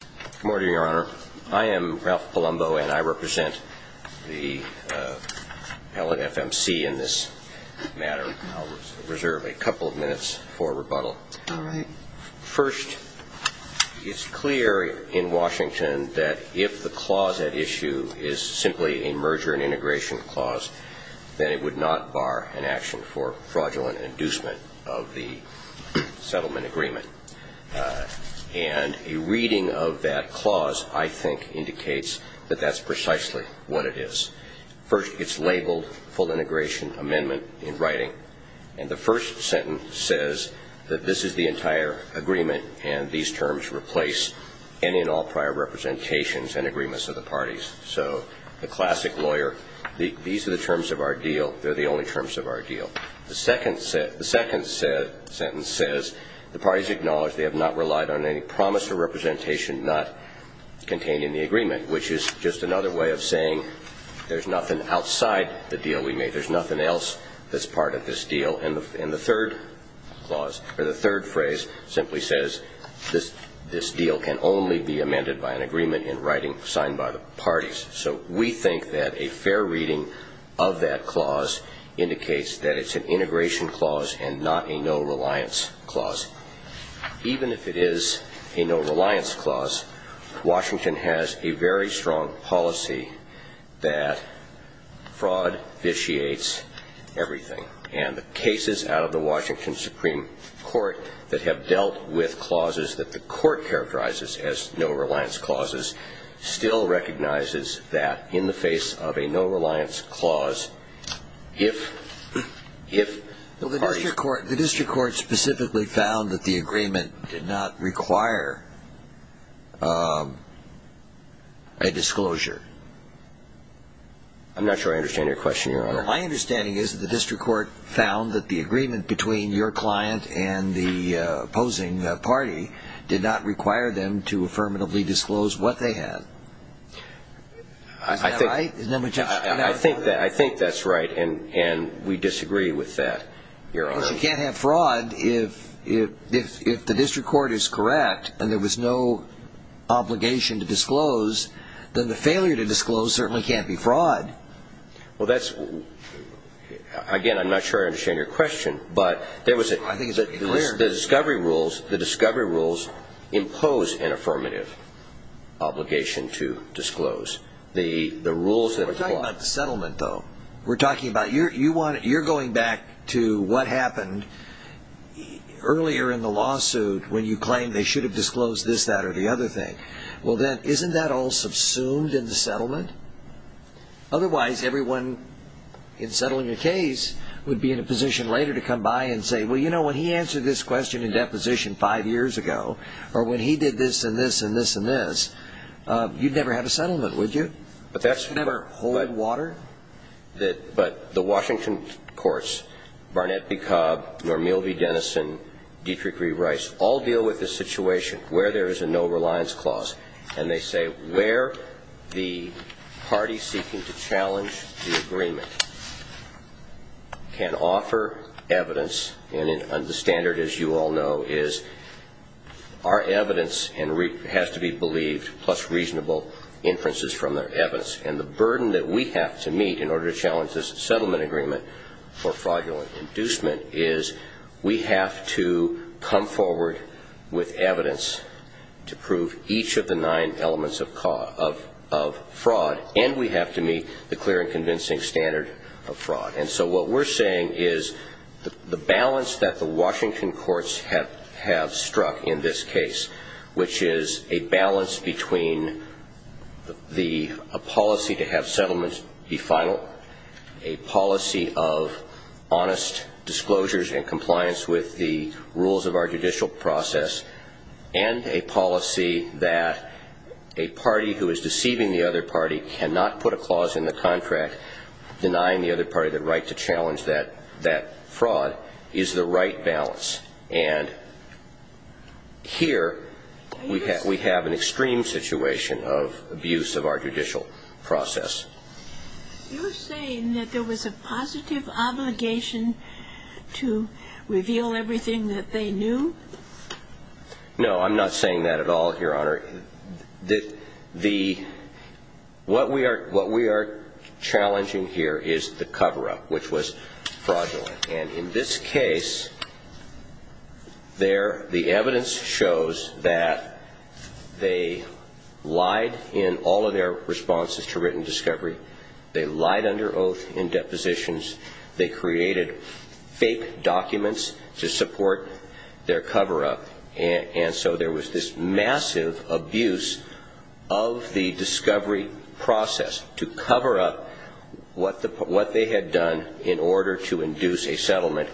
Good morning, Your Honor. I am Ralph Palumbo and I represent the Pellet FMC in this matter. I'll reserve a couple of minutes for rebuttal. All right. First, it's clear in Washington that if the clause at issue is simply a merger and integration clause, then it would not bar an action for fraudulent inducement of the settlement agreement. And a reading of that clause, I think, indicates that that's precisely what it is. First, it's labeled full integration amendment in writing. And the first sentence says that this is the entire agreement and these terms replace any and all prior representations and agreements of the parties. So the classic lawyer, these are the terms of our deal. They're the only terms of our deal. The second sentence says the parties acknowledge they have not relied on any promise or representation not contained in the agreement, which is just another way of saying there's nothing outside the deal we made. There's nothing else that's part of this deal. And the third clause or the third phrase simply says this deal can only be amended by an agreement in writing signed by the parties. So we think that a fair reading of that clause indicates that it's an integration clause and not a no-reliance clause. Even if it is a no-reliance clause, Washington has a very strong policy that fraud vitiates everything. And the cases out of the Washington Supreme Court that have dealt with clauses that the court characterizes as no-reliance clauses still recognizes that in the face of a no-reliance clause, if, if parties. Well, the district court specifically found that the agreement did not require a disclosure. I'm not sure I understand your question, Your Honor. Well, my understanding is that the district court found that the agreement between your client and the opposing party did not require them to affirmatively disclose what they had. Is that right? I think that's right, and we disagree with that, Your Honor. But you can't have fraud if the district court is correct and there was no obligation to disclose, then the failure to disclose certainly can't be fraud. Well, that's, again, I'm not sure I understand your question, but there was a, the discovery rules, the discovery rules impose an affirmative obligation to disclose. The rules that apply. We're talking about the settlement, though. We're talking about, you're going back to what happened earlier in the lawsuit when you claimed they should have disclosed this, that, or the other thing. Well, then isn't that all subsumed in the settlement? Otherwise, everyone in settling a case would be in a position later to come by and say, well, you know, when he answered this question in deposition five years ago, or when he did this and this and this and this, you'd never have a settlement, would you? You'd never hold water? But the Washington courts, Barnett v. Cobb, Normil v. Dennison, Dietrich v. Rice, all deal with the situation where there is a no-reliance clause, and they say where the party seeking to challenge the agreement can offer evidence, and the standard, as you all know, is our evidence has to be believed, plus reasonable inferences from their evidence. And the burden that we have to meet in order to challenge this settlement agreement for fraudulent inducement is we have to come forward with evidence to prove each of the nine elements of fraud, and we have to meet the clear and convincing standard of fraud. And so what we're saying is the balance that the Washington courts have struck in this case, which is a balance between a policy to have settlements be final, a policy of honest disclosures and compliance with the rules of our judicial process, and a policy that a party who is deceiving the other party cannot put a clause in the contract, denying the other party the right to challenge that fraud, is the right balance. And here we have an extreme situation of abuse of our judicial process. You're saying that there was a positive obligation to reveal everything that they knew? No. I'm not saying that at all, Your Honor. What we are challenging here is the cover-up, which was fraudulent. And in this case, the evidence shows that they lied in all of their responses to written discovery. They lied under oath in depositions. They created fake documents to support their cover-up. And so there was this massive abuse of the discovery process to cover up what they had done in order to induce a settlement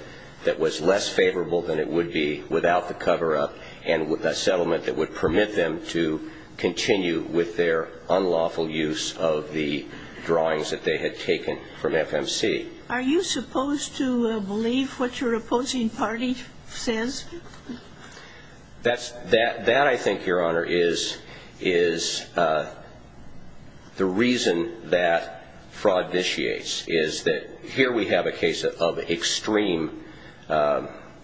that was less favorable than it would be without the cover-up and with a settlement that would permit them to continue with their unlawful use of the drawings that they had taken from FMC. Are you supposed to believe what your opposing party says? That, I think, Your Honor, is the reason that fraud initiates, is that here we have a case of extreme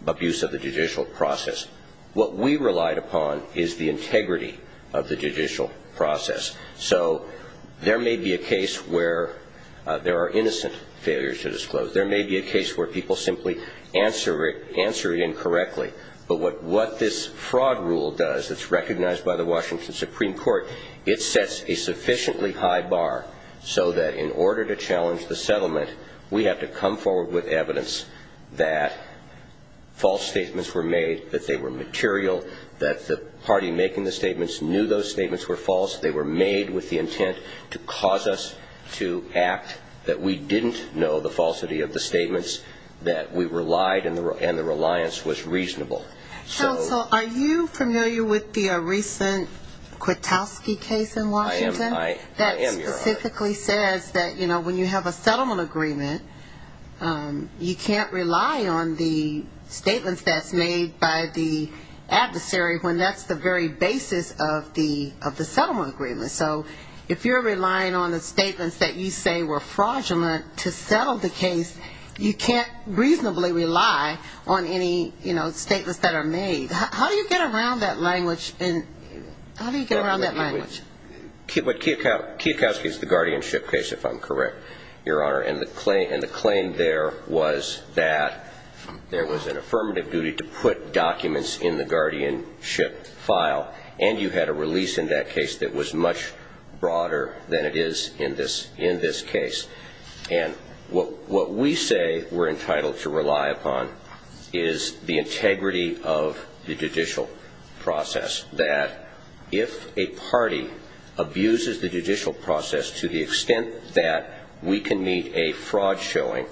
abuse of the judicial process. What we relied upon is the integrity of the judicial process. So there may be a case where there are innocent failures to disclose. There may be a case where people simply answer it incorrectly. But what this fraud rule does that's recognized by the Washington Supreme Court, it sets a sufficiently high bar so that in order to challenge the settlement, we have to come forward with evidence that false statements were made, that they were material, that the party making the statements knew those statements were false, they were made with the intent to cause us to act, that we didn't know the falsity of the statements, that we relied and the reliance was reasonable. Counsel, are you familiar with the recent Kwiatkowski case in Washington? I am, Your Honor. That specifically says that, you know, when you have a settlement agreement, you can't rely on the statements that's made by the adversary when that's the very basis of the settlement agreement. So if you're relying on the statements that you say were fraudulent to settle the case, you can't reasonably rely on any, you know, statements that are made. How do you get around that language? Kwiatkowski is the guardianship case, if I'm correct, Your Honor, and the claim there was that there was an affirmative duty to put documents in the guardianship file, and you had a release in that case that was much broader than it is in this case. And what we say we're entitled to rely upon is the integrity of the judicial process, that if a party abuses the judicial process to the extent that we can meet a fraud showing,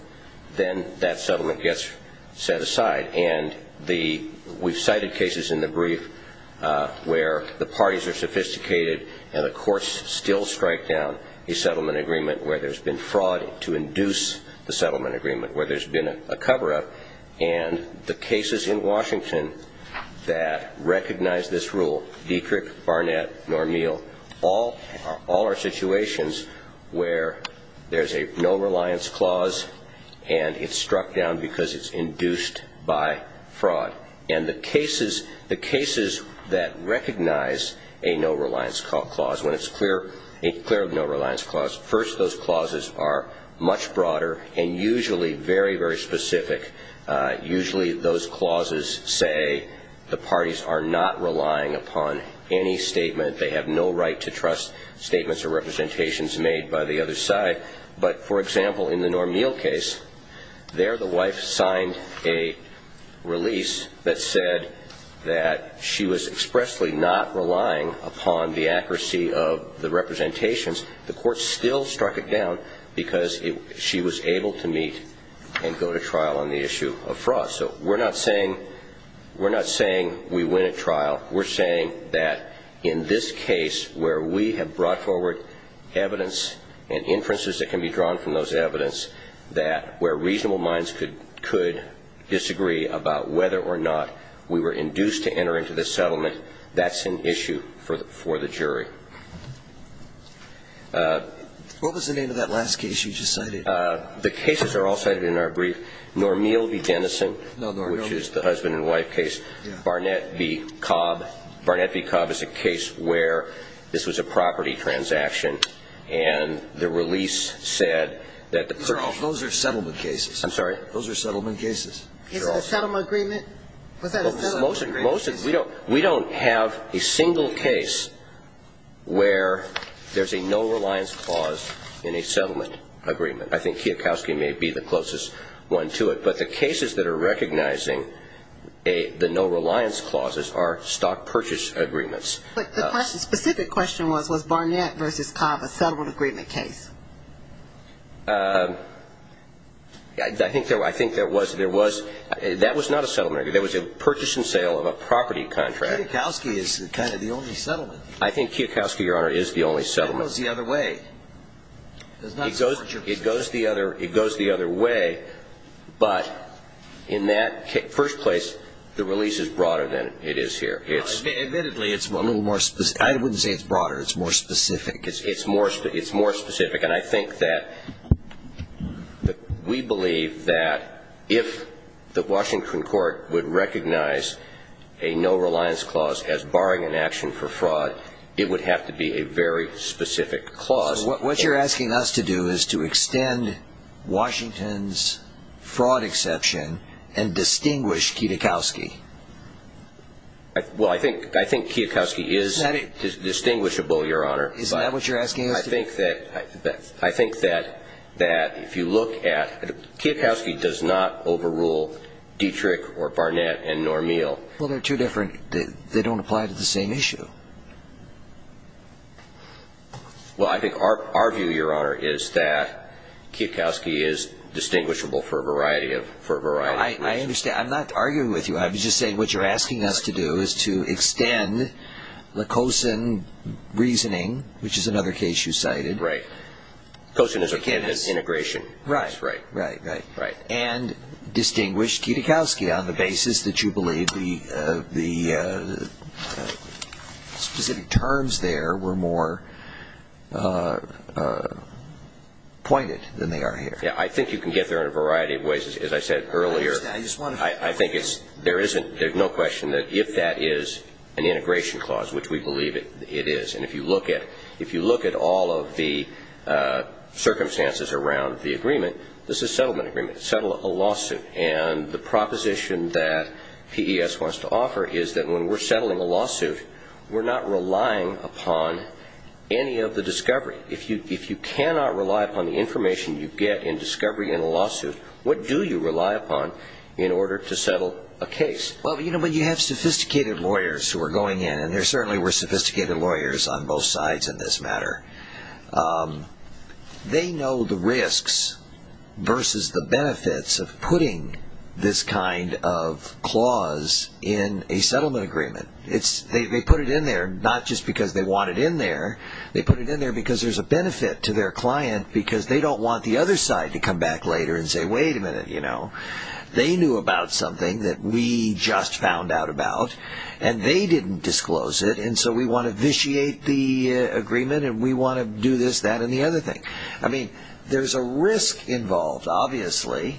then that settlement gets set aside. And we've cited cases in the brief where the parties are sophisticated and the courts still strike down a settlement agreement where there's been fraud to induce the settlement agreement, where there's been a cover-up. And the cases in Washington that recognize this rule, Dietrich, Barnett, Normeal, all are situations where there's a no-reliance clause and it's struck down because it's induced by fraud. And the cases that recognize a no-reliance clause, when it's clear of no-reliance clause, first those clauses are much broader and usually very, very specific. Usually those clauses say the parties are not relying upon any statement. They have no right to trust statements or representations made by the other side. But, for example, in the Normeal case, there the wife signed a release that said that she was expressly not relying upon the accuracy of the representations. The court still struck it down because she was able to meet and go to trial on the issue of fraud. So we're not saying we win at trial. We're saying that in this case where we have brought forward evidence and inferences that can be drawn from those evidence that where reasonable minds could disagree about whether or not we were induced to enter into this settlement, that's an issue for the jury. What was the name of that last case you just cited? The cases are all cited in our brief. Normeal v. Dennison, which is the husband and wife case. Barnett v. Cobb. Barnett v. Cobb is a case where this was a property transaction and the release said that the person Those are settlement cases. I'm sorry? Those are settlement cases. Is it a settlement agreement? We don't have a single case where there's a no-reliance clause in a settlement agreement. I think Kiyokowski may be the closest one to it, but the cases that are recognizing the no-reliance clauses are stock purchase agreements. But the specific question was, was Barnett v. Cobb a settlement agreement case? I think there was. That was not a settlement agreement. That was a purchase and sale of a property contract. Kiyokowski is kind of the only settlement. I think Kiyokowski, Your Honor, is the only settlement. That goes the other way. It does not converge. It goes the other way, but in that first place, the release is broader than it is here. Admittedly, it's a little more specific. I wouldn't say it's broader. It's more specific. It's more specific. And I think that we believe that if the Washington court would recognize a no-reliance clause as barring an action for fraud, it would have to be a very specific clause. What you're asking us to do is to extend Washington's fraud exception and distinguish Kiyokowski. Well, I think Kiyokowski is distinguishable, Your Honor. Isn't that what you're asking us to do? I think that if you look at it, Kiyokowski does not overrule Dietrich or Barnett and nor Meehl. Well, they're too different. They don't apply to the same issue. Well, I think our view, Your Honor, is that Kiyokowski is distinguishable for a variety of reasons. I understand. I'm not arguing with you. I'm just saying what you're asking us to do is to extend Lakosin reasoning, which is another case you cited. Right. Lakosin is a case of integration. Right, right, right. Right. And distinguish Kiyokowski on the basis that you believe the specific terms there were more pointed than they are here. Yeah, I think you can get there in a variety of ways, as I said earlier. I think there's no question that if that is an integration clause, which we believe it is, and if you look at all of the circumstances around the agreement, this is a settlement agreement. It's a lawsuit. And the proposition that PES wants to offer is that when we're settling a lawsuit, we're not relying upon any of the discovery. If you cannot rely upon the information you get in discovery in a lawsuit, what do you rely upon in order to settle a case? Well, you have sophisticated lawyers who are going in, and there certainly were sophisticated lawyers on both sides in this matter. They know the risks versus the benefits of putting this kind of clause in a settlement agreement. They put it in there not just because they want it in there. They put it in there because there's a benefit to their client because they don't want the other side to come back later and say, wait a minute, you know, they knew about something that we just found out about, and they didn't disclose it, and so we want to vitiate the agreement, and we want to do this, that, and the other thing. I mean, there's a risk involved, obviously.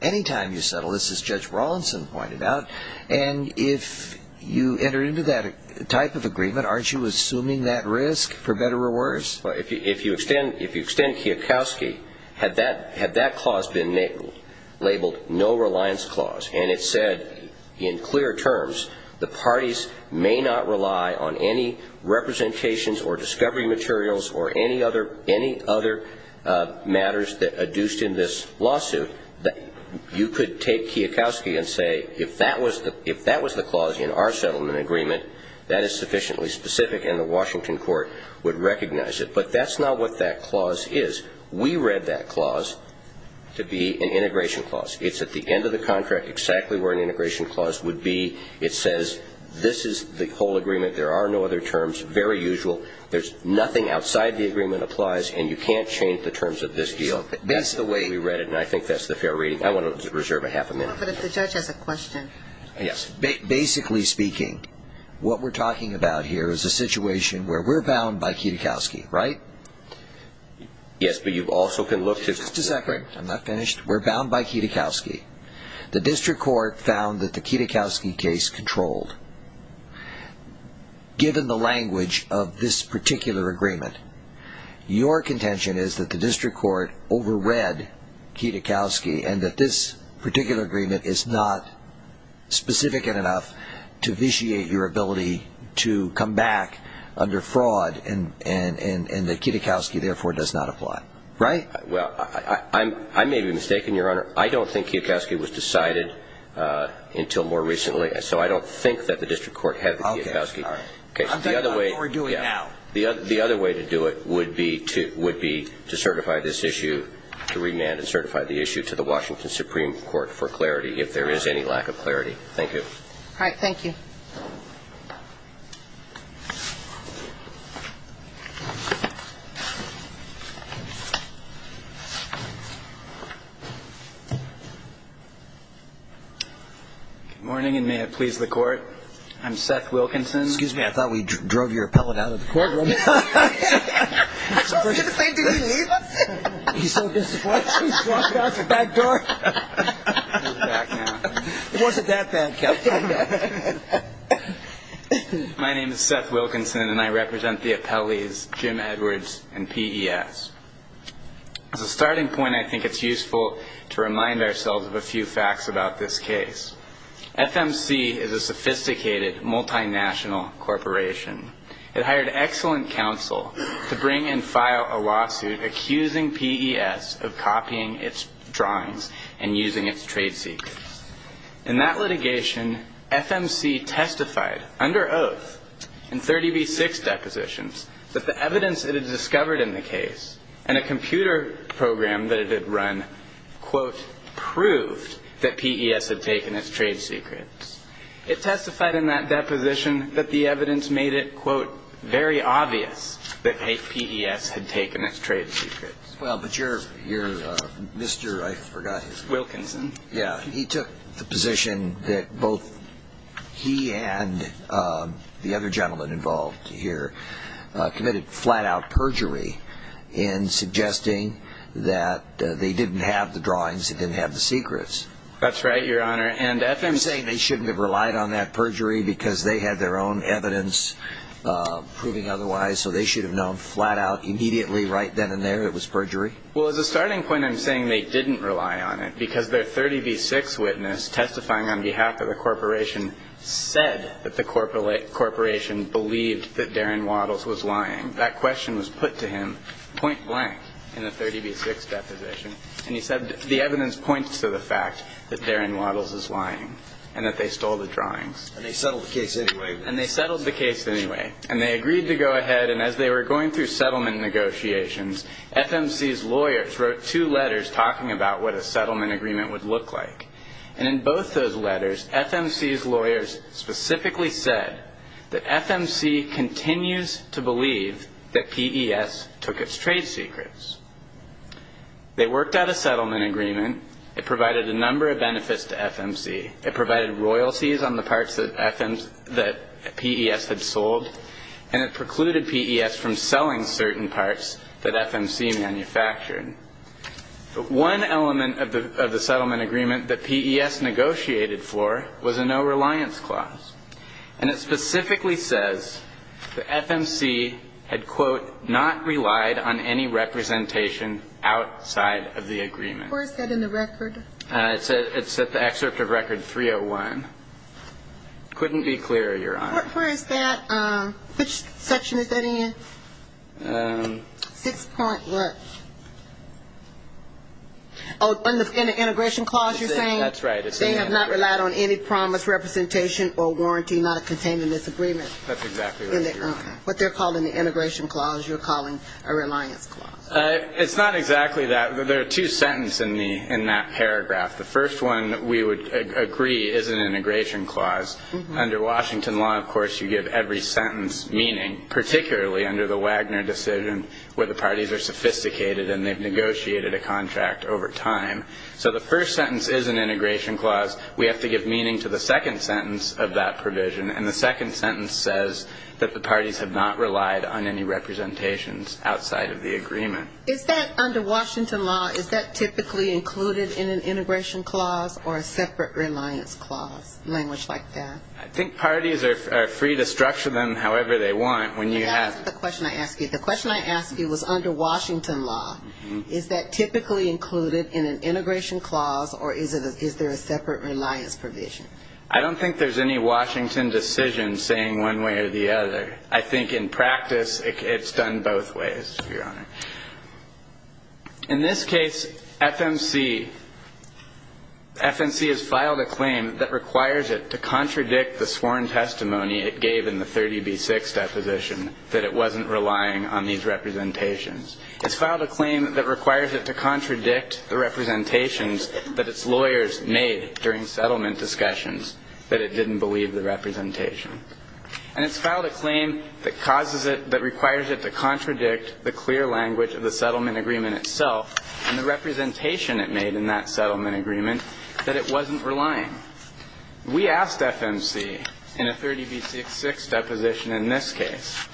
Any time you settle this, as Judge Rawlinson pointed out, and if you enter into that type of agreement, aren't you assuming that risk for better or worse? Well, if you extend Kiyokowski, had that clause been labeled no-reliance clause and it said in clear terms the parties may not rely on any representations or discovery materials or any other matters adduced in this lawsuit, you could take Kiyokowski and say, if that was the clause in our settlement agreement, that is sufficiently specific, and the Washington court would recognize it. But that's not what that clause is. We read that clause to be an integration clause. It's at the end of the contract exactly where an integration clause would be. It says this is the whole agreement. There are no other terms. Very usual. There's nothing outside the agreement applies, and you can't change the terms of this deal. That's the way we read it, and I think that's the fair reading. I want to reserve a half a minute. But if the judge has a question. Yes. Basically speaking, what we're talking about here is a situation where we're bound by Kiyokowski, right? Yes, but you also can look to separate. I'm not finished. We're bound by Kiyokowski. The district court found that the Kiyokowski case controlled. Given the language of this particular agreement, your contention is that the district court overread Kiyokowski and that this particular agreement is not specific enough to vitiate your ability to come back under fraud and that Kiyokowski, therefore, does not apply. Right? Well, I may be mistaken, Your Honor. I don't think Kiyokowski was decided until more recently, so I don't think that the district court had the Kiyokowski case. I'm talking about what we're doing now. The other way to do it would be to certify this issue to remand and certify the issue to the Washington Supreme Court for clarity if there is any lack of clarity. Thank you. All right. Thank you. Good morning, and may it please the Court. I'm Seth Wilkinson. Excuse me, I thought we drove your appellate out of the courtroom. I was going to say, did he leave us? He's so disappointed. He's walking out the back door. He's back now. It wasn't that bad, Captain. My name is Seth Wilkinson, and I represent the appellees Jim Edwards and P.E.S. As a starting point, I think it's useful to remind ourselves of a few facts about this case. FMC is a sophisticated, multinational corporation. It hired excellent counsel to bring and file a lawsuit accusing P.E.S. of copying its drawings and using its trade secrets. In that litigation, FMC testified under oath in 30b-6 depositions that the evidence it had discovered in the case and a computer program that it had run, quote, proved that P.E.S. had taken its trade secrets. It testified in that deposition that the evidence made it, quote, very obvious that P.E.S. had taken its trade secrets. Well, but your Mr. I forgot his name. Wilkinson. Yeah, he took the position that both he and the other gentleman involved here committed flat-out perjury in suggesting that they didn't have the drawings, they didn't have the secrets. That's right, Your Honor, and FMC I'm saying they shouldn't have relied on that perjury because they had their own evidence proving otherwise, so they should have known flat-out immediately right then and there it was perjury. Well, as a starting point, I'm saying they didn't rely on it because their 30b-6 witness testifying on behalf of the corporation said that the corporation believed that Darren Waddles was lying. That question was put to him point-blank in the 30b-6 deposition, and he said the evidence points to the fact that Darren Waddles is lying and that they stole the drawings. And they settled the case anyway. And they settled the case anyway, and they agreed to go ahead, and as they were going through settlement negotiations, FMC's lawyers wrote two letters talking about what a settlement agreement would look like, and in both those letters, FMC's lawyers specifically said that FMC continues to believe that PES took its trade secrets. They worked out a settlement agreement. It provided a number of benefits to FMC. It provided royalties on the parts that PES had sold, and it precluded PES from selling certain parts that FMC manufactured. One element of the settlement agreement that PES negotiated for was a no-reliance clause, and it specifically says that FMC had, quote, not relied on any representation outside of the agreement. Where is that in the record? It's at the excerpt of Record 301. Couldn't be clearer, Your Honor. Where is that? Which section is that in? Six point what? Oh, in the integration clause you're saying? That's right. It's in the integration. They have not relied on any promise, representation, or warranty, not a containment disagreement. That's exactly right, Your Honor. What they're calling the integration clause you're calling a reliance clause. It's not exactly that. There are two sentences in that paragraph. The first one we would agree is an integration clause. Under Washington law, of course, you give every sentence meaning, particularly under the Wagner decision where the parties are sophisticated and they've negotiated a contract over time. So the first sentence is an integration clause. We have to give meaning to the second sentence of that provision, and the second sentence says that the parties have not relied on any representations outside of the agreement. Is that, under Washington law, is that typically included in an integration clause or a separate reliance clause, language like that? I think parties are free to structure them however they want when you have them. That's not the question I asked you. The question I asked you was under Washington law. Is that typically included in an integration clause or is there a separate reliance provision? I don't think there's any Washington decision saying one way or the other. I think in practice it's done both ways, Your Honor. In this case, FMC, FMC has filed a claim that requires it to contradict the sworn testimony it gave in the 30b-6 deposition that it wasn't relying on these representations. It's filed a claim that requires it to contradict the representations that its lawyers made during settlement discussions, that it didn't believe the representation. And it's filed a claim that causes it, that requires it to contradict the clear language of the settlement agreement itself and the representation it made in that settlement agreement that it wasn't relying. We asked FMC in a 30b-6 deposition in this case.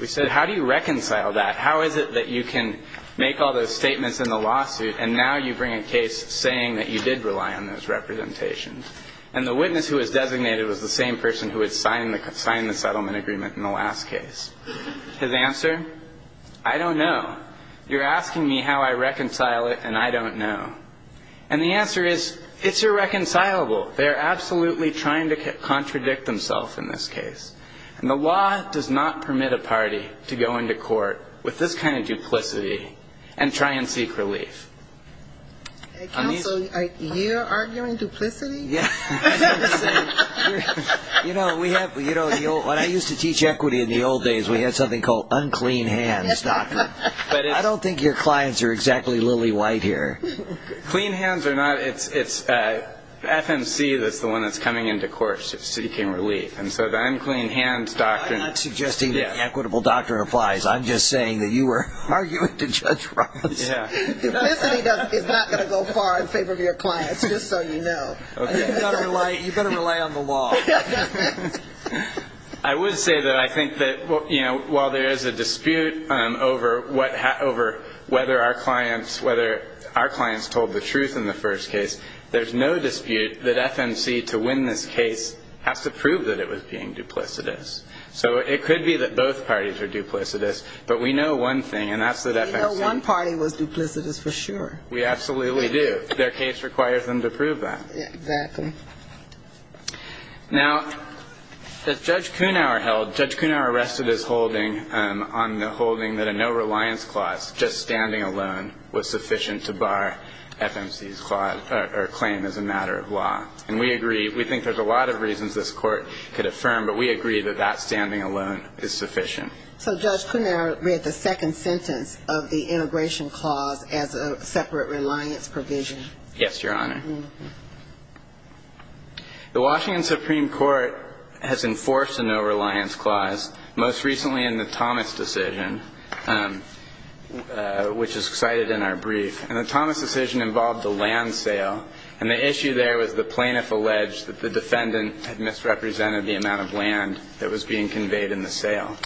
We said, how do you reconcile that? How is it that you can make all those statements in the lawsuit and now you bring a case saying that you did rely on those representations? And the witness who was designated was the same person who had signed the settlement agreement in the last case. His answer, I don't know. You're asking me how I reconcile it, and I don't know. And the answer is, it's irreconcilable. They are absolutely trying to contradict themselves in this case. And the law does not permit a party to go into court with this kind of duplicity and try and seek relief. Counsel, are you arguing duplicity? Yes. You know, when I used to teach equity in the old days, we had something called unclean hands doctrine. I don't think your clients are exactly lily white here. Clean hands are not. It's FMC that's the one that's coming into court seeking relief. And so the unclean hands doctrine. I'm not suggesting that the equitable doctrine applies. I'm just saying that you were arguing to Judge Ross. Duplicity is not going to go far in favor of your clients, just so you know. You've got to rely on the law. I would say that I think that while there is a dispute over whether our clients told the truth in the first case, there's no dispute that FMC, to win this case, has to prove that it was being duplicitous. So it could be that both parties are duplicitous, but we know one thing, and that's that FMC. One party was duplicitous for sure. We absolutely do. Their case requires them to prove that. Exactly. Now, that Judge Kunauer held, Judge Kunauer rested his holding on the holding that a no-reliance clause, just standing alone, was sufficient to bar FMC's claim as a matter of law. And we agree, we think there's a lot of reasons this court could affirm, but we agree that that standing alone is sufficient. So Judge Kunauer read the second sentence of the integration clause as a separate reliance provision. Yes, Your Honor. The Washington Supreme Court has enforced a no-reliance clause, most recently in the Thomas decision, which is cited in our brief. And the Thomas decision involved a land sale, and the issue there was the plaintiff alleged that the defendant had misrepresented the amount of land that was being conveyed in the sale.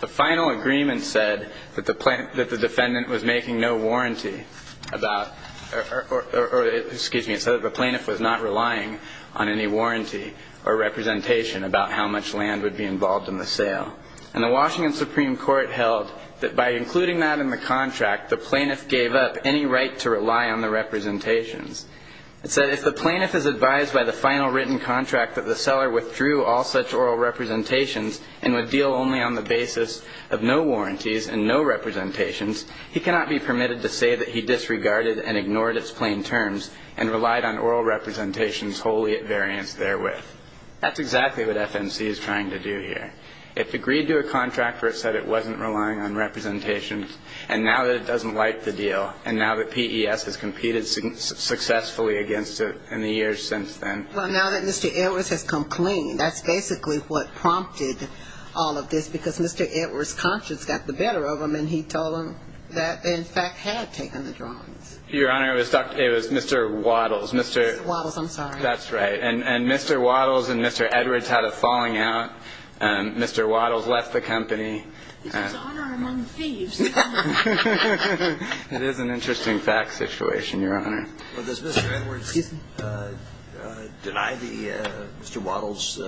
The final agreement said that the defendant was making no warranty about, or excuse me, it said that the plaintiff was not relying on any warranty or representation about how much land would be involved in the sale. And the Washington Supreme Court held that by including that in the contract, the plaintiff gave up any right to rely on the representations. It said, if the plaintiff is advised by the final written contract that the seller withdrew all such oral representations and would deal only on the basis of no warranties and no representations, he cannot be permitted to say that he disregarded and ignored its plain terms and relied on oral representations wholly at variance therewith. That's exactly what FNC is trying to do here. It's agreed to a contract where it said it wasn't relying on representations, and now that it doesn't like the deal, and now that PES has competed successfully against it in the years since then. Well, now that Mr. Edwards has come clean, that's basically what prompted all of this because Mr. Edwards' conscience got the better of him, and he told him that they, in fact, had taken the drawings. Your Honor, it was Mr. Waddles. Mr. Waddles, I'm sorry. That's right. And Mr. Waddles and Mr. Edwards had a falling out. Mr. Waddles left the company. It's his honor among thieves. It is an interesting fact situation, Your Honor. Well, does Mr. Edwards deny the Mr. Waddles?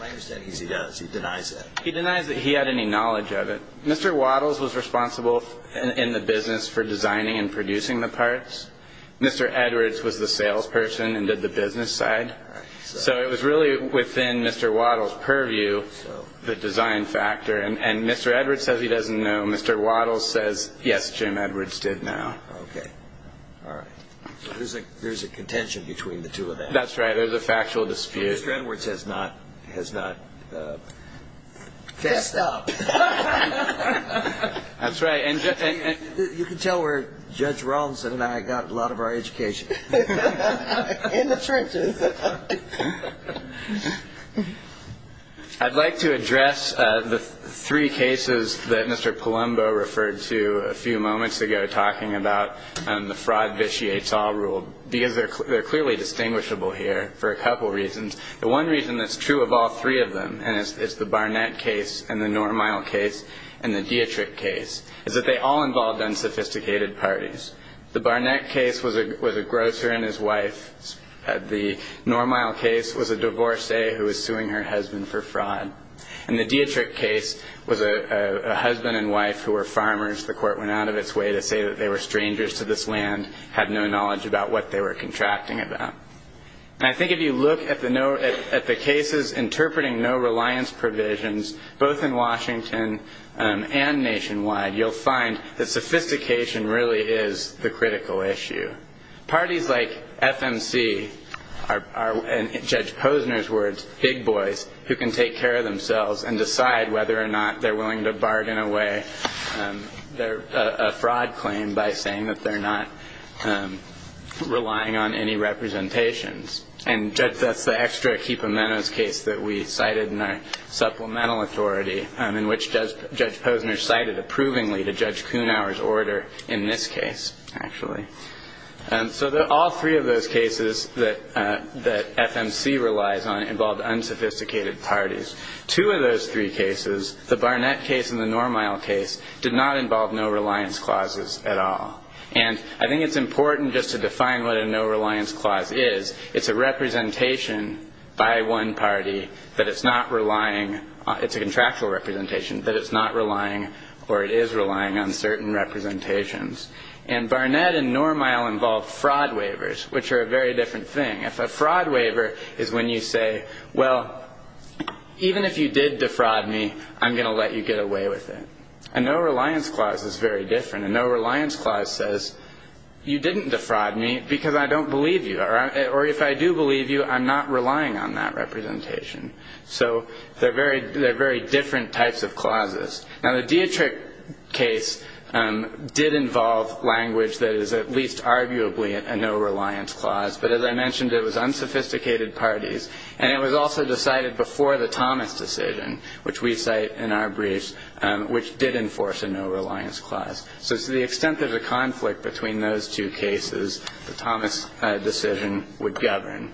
My understanding is he does. He denies that. He denies that he had any knowledge of it. Mr. Waddles was responsible in the business for designing and producing the parts. Mr. Edwards was the salesperson and did the business side. So it was really within Mr. Waddles' purview, the design factor. And Mr. Edwards says he doesn't know. Mr. Waddles says, yes, Jim Edwards did now. Okay. All right. So there's a contention between the two of them. That's right. There's a factual dispute. Mr. Edwards has not fessed up. That's right. You can tell where Judge Robinson and I got a lot of our education. In the trenches. I'd like to address the three cases that Mr. Palumbo referred to a few moments ago talking about the fraud vitiates all rule, because they're clearly distinguishable here for a couple reasons. The one reason that's true of all three of them, and it's the Barnett case and the Normyle case and the Dietrich case, is that they all involved unsophisticated parties. The Barnett case was a grocer and his wife. The Normyle case was a divorcee who was suing her husband for fraud. And the Dietrich case was a husband and wife who were farmers. The court went out of its way to say that they were strangers to this land, had no knowledge about what they were contracting about. And I think if you look at the cases interpreting no reliance provisions, both in Washington and nationwide, you'll find that sophistication really is the critical issue. Parties like FMC are, in Judge Posner's words, big boys who can take care of themselves and decide whether or not they're willing to bargain away a fraud claim by saying that they're not relying on any representations. And that's the extra equipamentos case that we cited in our supplemental authority, in which Judge Posner cited approvingly to Judge Kuhnauer's order in this case, actually. So all three of those cases that FMC relies on involved unsophisticated parties. Two of those three cases, the Barnett case and the Normyle case, did not involve no reliance clauses at all. And I think it's important just to define what a no reliance clause is. It's a representation by one party that it's not relying on. It's a contractual representation that it's not relying or it is relying on certain representations. And Barnett and Normyle involved fraud waivers, which are a very different thing. A fraud waiver is when you say, well, even if you did defraud me, I'm going to let you get away with it. A no reliance clause is very different. A no reliance clause says you didn't defraud me because I don't believe you. Or if I do believe you, I'm not relying on that representation. So they're very different types of clauses. Now, the Dietrich case did involve language that is at least arguably a no reliance clause. But as I mentioned, it was unsophisticated parties. And it was also decided before the Thomas decision, which we cite in our briefs, which did enforce a no reliance clause. So to the extent there's a conflict between those two cases, the Thomas decision would govern.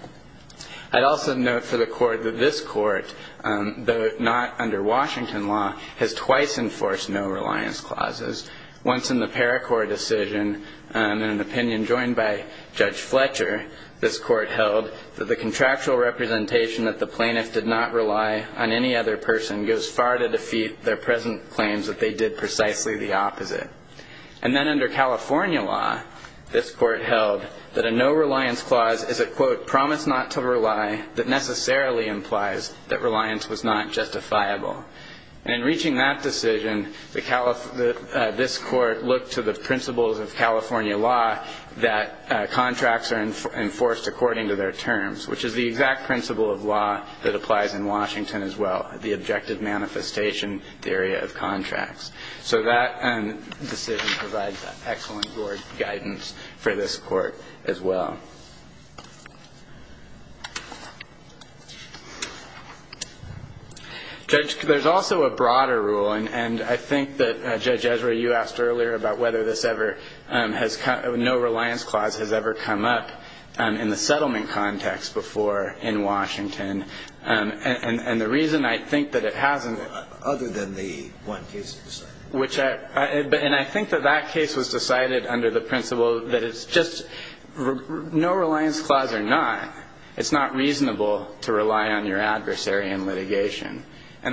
I'd also note for the Court that this Court, though not under Washington law, has twice enforced no reliance clauses. Once in the Paracourt decision, in an opinion joined by Judge Fletcher, this Court held that the contractual representation that the plaintiff did not rely on any other person goes far to defeat their present claims that they did precisely the opposite. And then under California law, this Court held that a no reliance clause is a, quote, promise not to rely that necessarily implies that reliance was not justifiable. And in reaching that decision, this Court looked to the principles of California law that contracts are enforced according to their terms, which is the exact principle of law that applies in Washington as well, the objective manifestation theory of contracts. So that decision provides excellent board guidance for this Court as well. Judge, there's also a broader rule. And I think that, Judge Ezra, you asked earlier about whether this ever has no reliance clause has ever come up in the settlement context. I mean, it's a clause that was decided once before in Washington. And the reason I think that it hasn't other than the one case. Which I think that that case was decided under the principle that it's just no reliance clause or not, And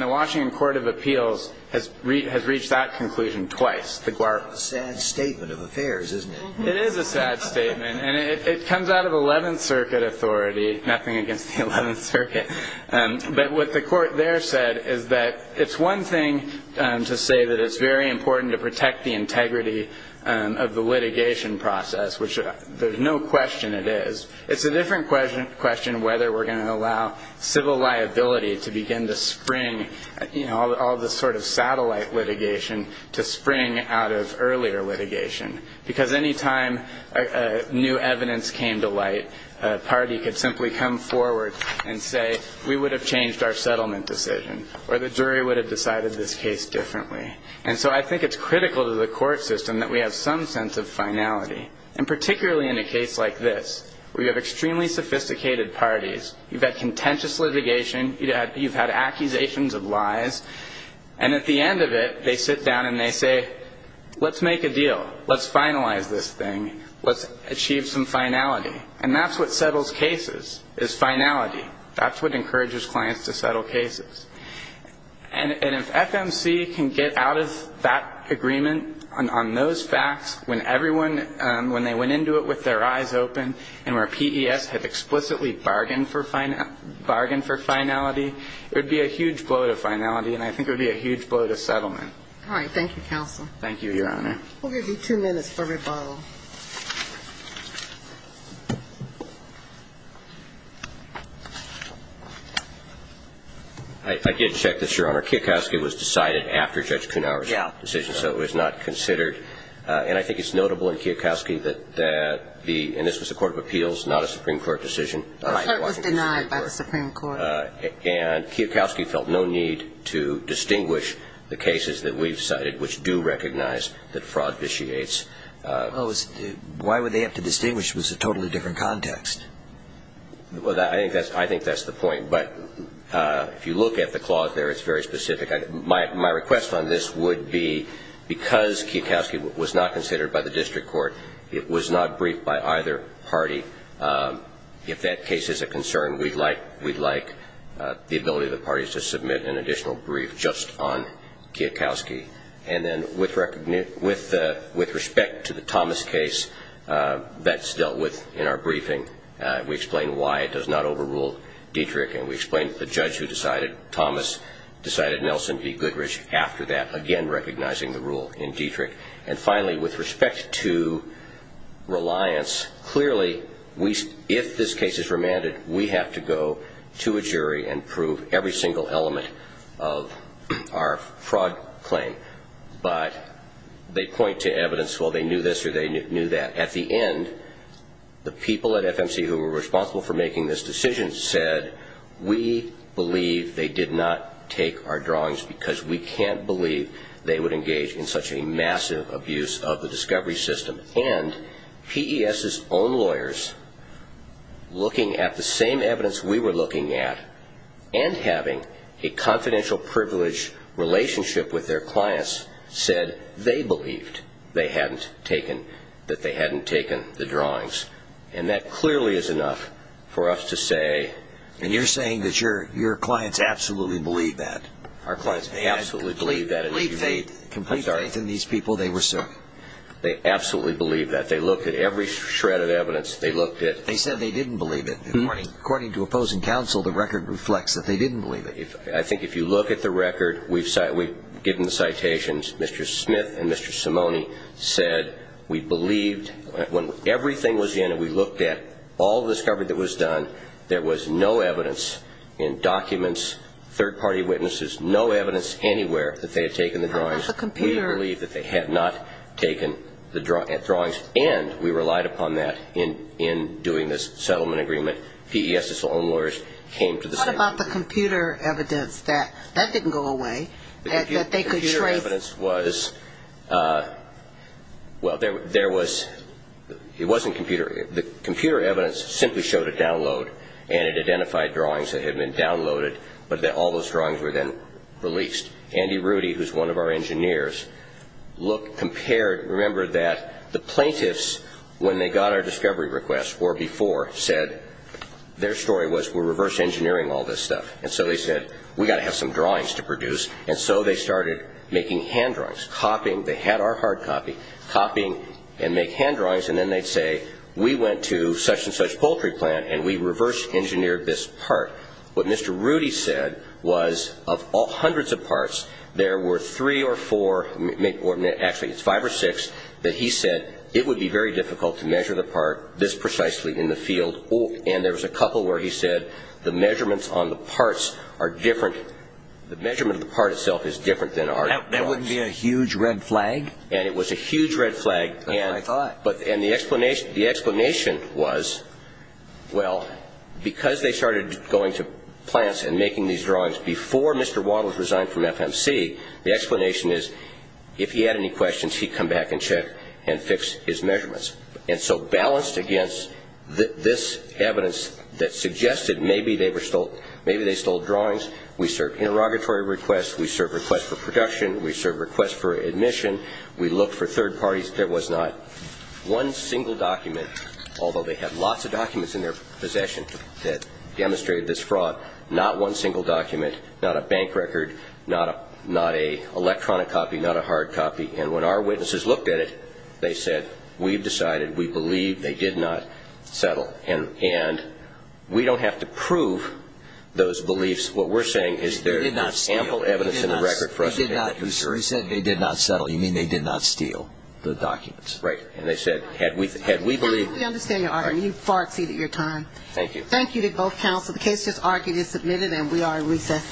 the Washington Court of Appeals has reached that conclusion twice. It's a sad statement of affairs, isn't it? It is a sad statement. And it comes out of 11th Circuit authority, nothing against the 11th Circuit. But what the Court there said is that it's one thing to say that it's very important to protect the integrity of the litigation process, which there's no question it is. It's a different question whether we're going to allow civil liability to begin to spring, you know, all this sort of satellite litigation to spring out of earlier litigation. Because any time new evidence came to light, a party could simply come forward and say, we would have changed our settlement decision, or the jury would have decided this case differently. And so I think it's critical to the court system that we have some sense of finality. And particularly in a case like this, where you have extremely sophisticated parties, you've had contentious litigation, you've had accusations of lies, and at the end of it, they sit down and they say, let's make a deal. Let's finalize this thing. Let's achieve some finality. And that's what settles cases, is finality. That's what encourages clients to settle cases. And if FMC can get out of that agreement on those facts, when everyone, when they went into it with their eyes open, and where PES had explicitly bargained for finality, it would be a huge blow to finality, and I think it would be a huge blow to settlement. All right. Thank you, counsel. Thank you, Your Honor. We'll give you two minutes for rebuttal. I did check this, Your Honor. Kiyokoski was decided after Judge Kuhnhauer's decision, so it was not considered. And I think it's notable in Kiyokoski that the, and this was a court of appeals, not a Supreme Court decision. It was denied by the Supreme Court. And Kiyokoski felt no need to distinguish the cases that we've cited, which do recognize that fraud vitiates. Well, it was denied by the Supreme Court. Why would they have to distinguish? It was a totally different context. I think that's the point. But if you look at the clause there, it's very specific. My request on this would be, because Kiyokoski was not considered by the district court, it was not briefed by either party. If that case is a concern, we'd like the ability of the parties to submit an additional brief just on Kiyokoski. And then with respect to the Thomas case, that's dealt with in our briefing. We explain why it does not overrule Dietrich. And we explain that the judge who decided Thomas decided Nelson v. Goodrich after that, again recognizing the rule in Dietrich. And finally, with respect to reliance, clearly if this case is remanded, we have to go to a jury and prove every single element of our fraud claim. But they point to evidence, well, they knew this or they knew that. At the end, the people at FMC who were responsible for making this decision said, we believe they did not take our drawings because we can't believe they would engage in such a massive abuse of the discovery system. And PES's own lawyers, looking at the same evidence we were looking at and having a confidential privilege relationship with their clients, said they believed they hadn't taken the drawings. And that clearly is enough for us to say. And you're saying that your clients absolutely believe that. Our clients absolutely believe that. They had complete faith in these people they were serving. They absolutely believe that. They looked at every shred of evidence. They said they didn't believe it. According to opposing counsel, the record reflects that they didn't believe it. I think if you look at the record, we've given the citations. Mr. Smith and Mr. Simone said we believed when everything was in and we looked at all the discovery that was done, there was no evidence in documents, third-party witnesses, no evidence anywhere that they had taken the drawings. We believe that they had not taken the drawings. And we relied upon that in doing this settlement agreement. PES's own lawyers came to the same conclusion. What about the computer evidence? That didn't go away. The computer evidence was – well, there was – it wasn't computer. The computer evidence simply showed a download, and it identified drawings that had been downloaded, but all those drawings were then released. Andy Rudy, who's one of our engineers, looked, compared – remember that the plaintiffs, when they got our discovery request, or before, said their story was we're reverse engineering all this stuff. And so they said we've got to have some drawings to produce. And so they started making hand drawings, copying. They had our hard copy, copying and make hand drawings, and then they'd say we went to such-and-such poultry plant and we reverse engineered this part. What Mr. Rudy said was of all hundreds of parts, there were three or four – actually, it's five or six that he said it would be very difficult to measure the part this precisely in the field. And there was a couple where he said the measurements on the parts are different – the measurement of the part itself is different than our drawings. That wouldn't be a huge red flag? And it was a huge red flag. That's what I thought. And the explanation was, well, because they started going to plants and making these drawings before Mr. Wall was resigned from FMC, the explanation is if he had any questions, he'd come back and check and fix his measurements. And so balanced against this evidence that suggested maybe they stole drawings, we served interrogatory requests, we served requests for production, we served requests for admission, we looked for third parties. There was not one single document, although they had lots of documents in their possession that demonstrated this fraud, not one single document, not a bank record, not an electronic copy, not a hard copy. And when our witnesses looked at it, they said, we've decided we believe they did not settle. And we don't have to prove those beliefs. What we're saying is there is ample evidence in the record for us to take that to the jury. He said they did not settle. You mean they did not steal the documents? Right. And they said, had we believed – Counsel, we understand your argument. You've far exceeded your time. Thank you. Thank you to both counsel. The case is argued and submitted, and we are in recess.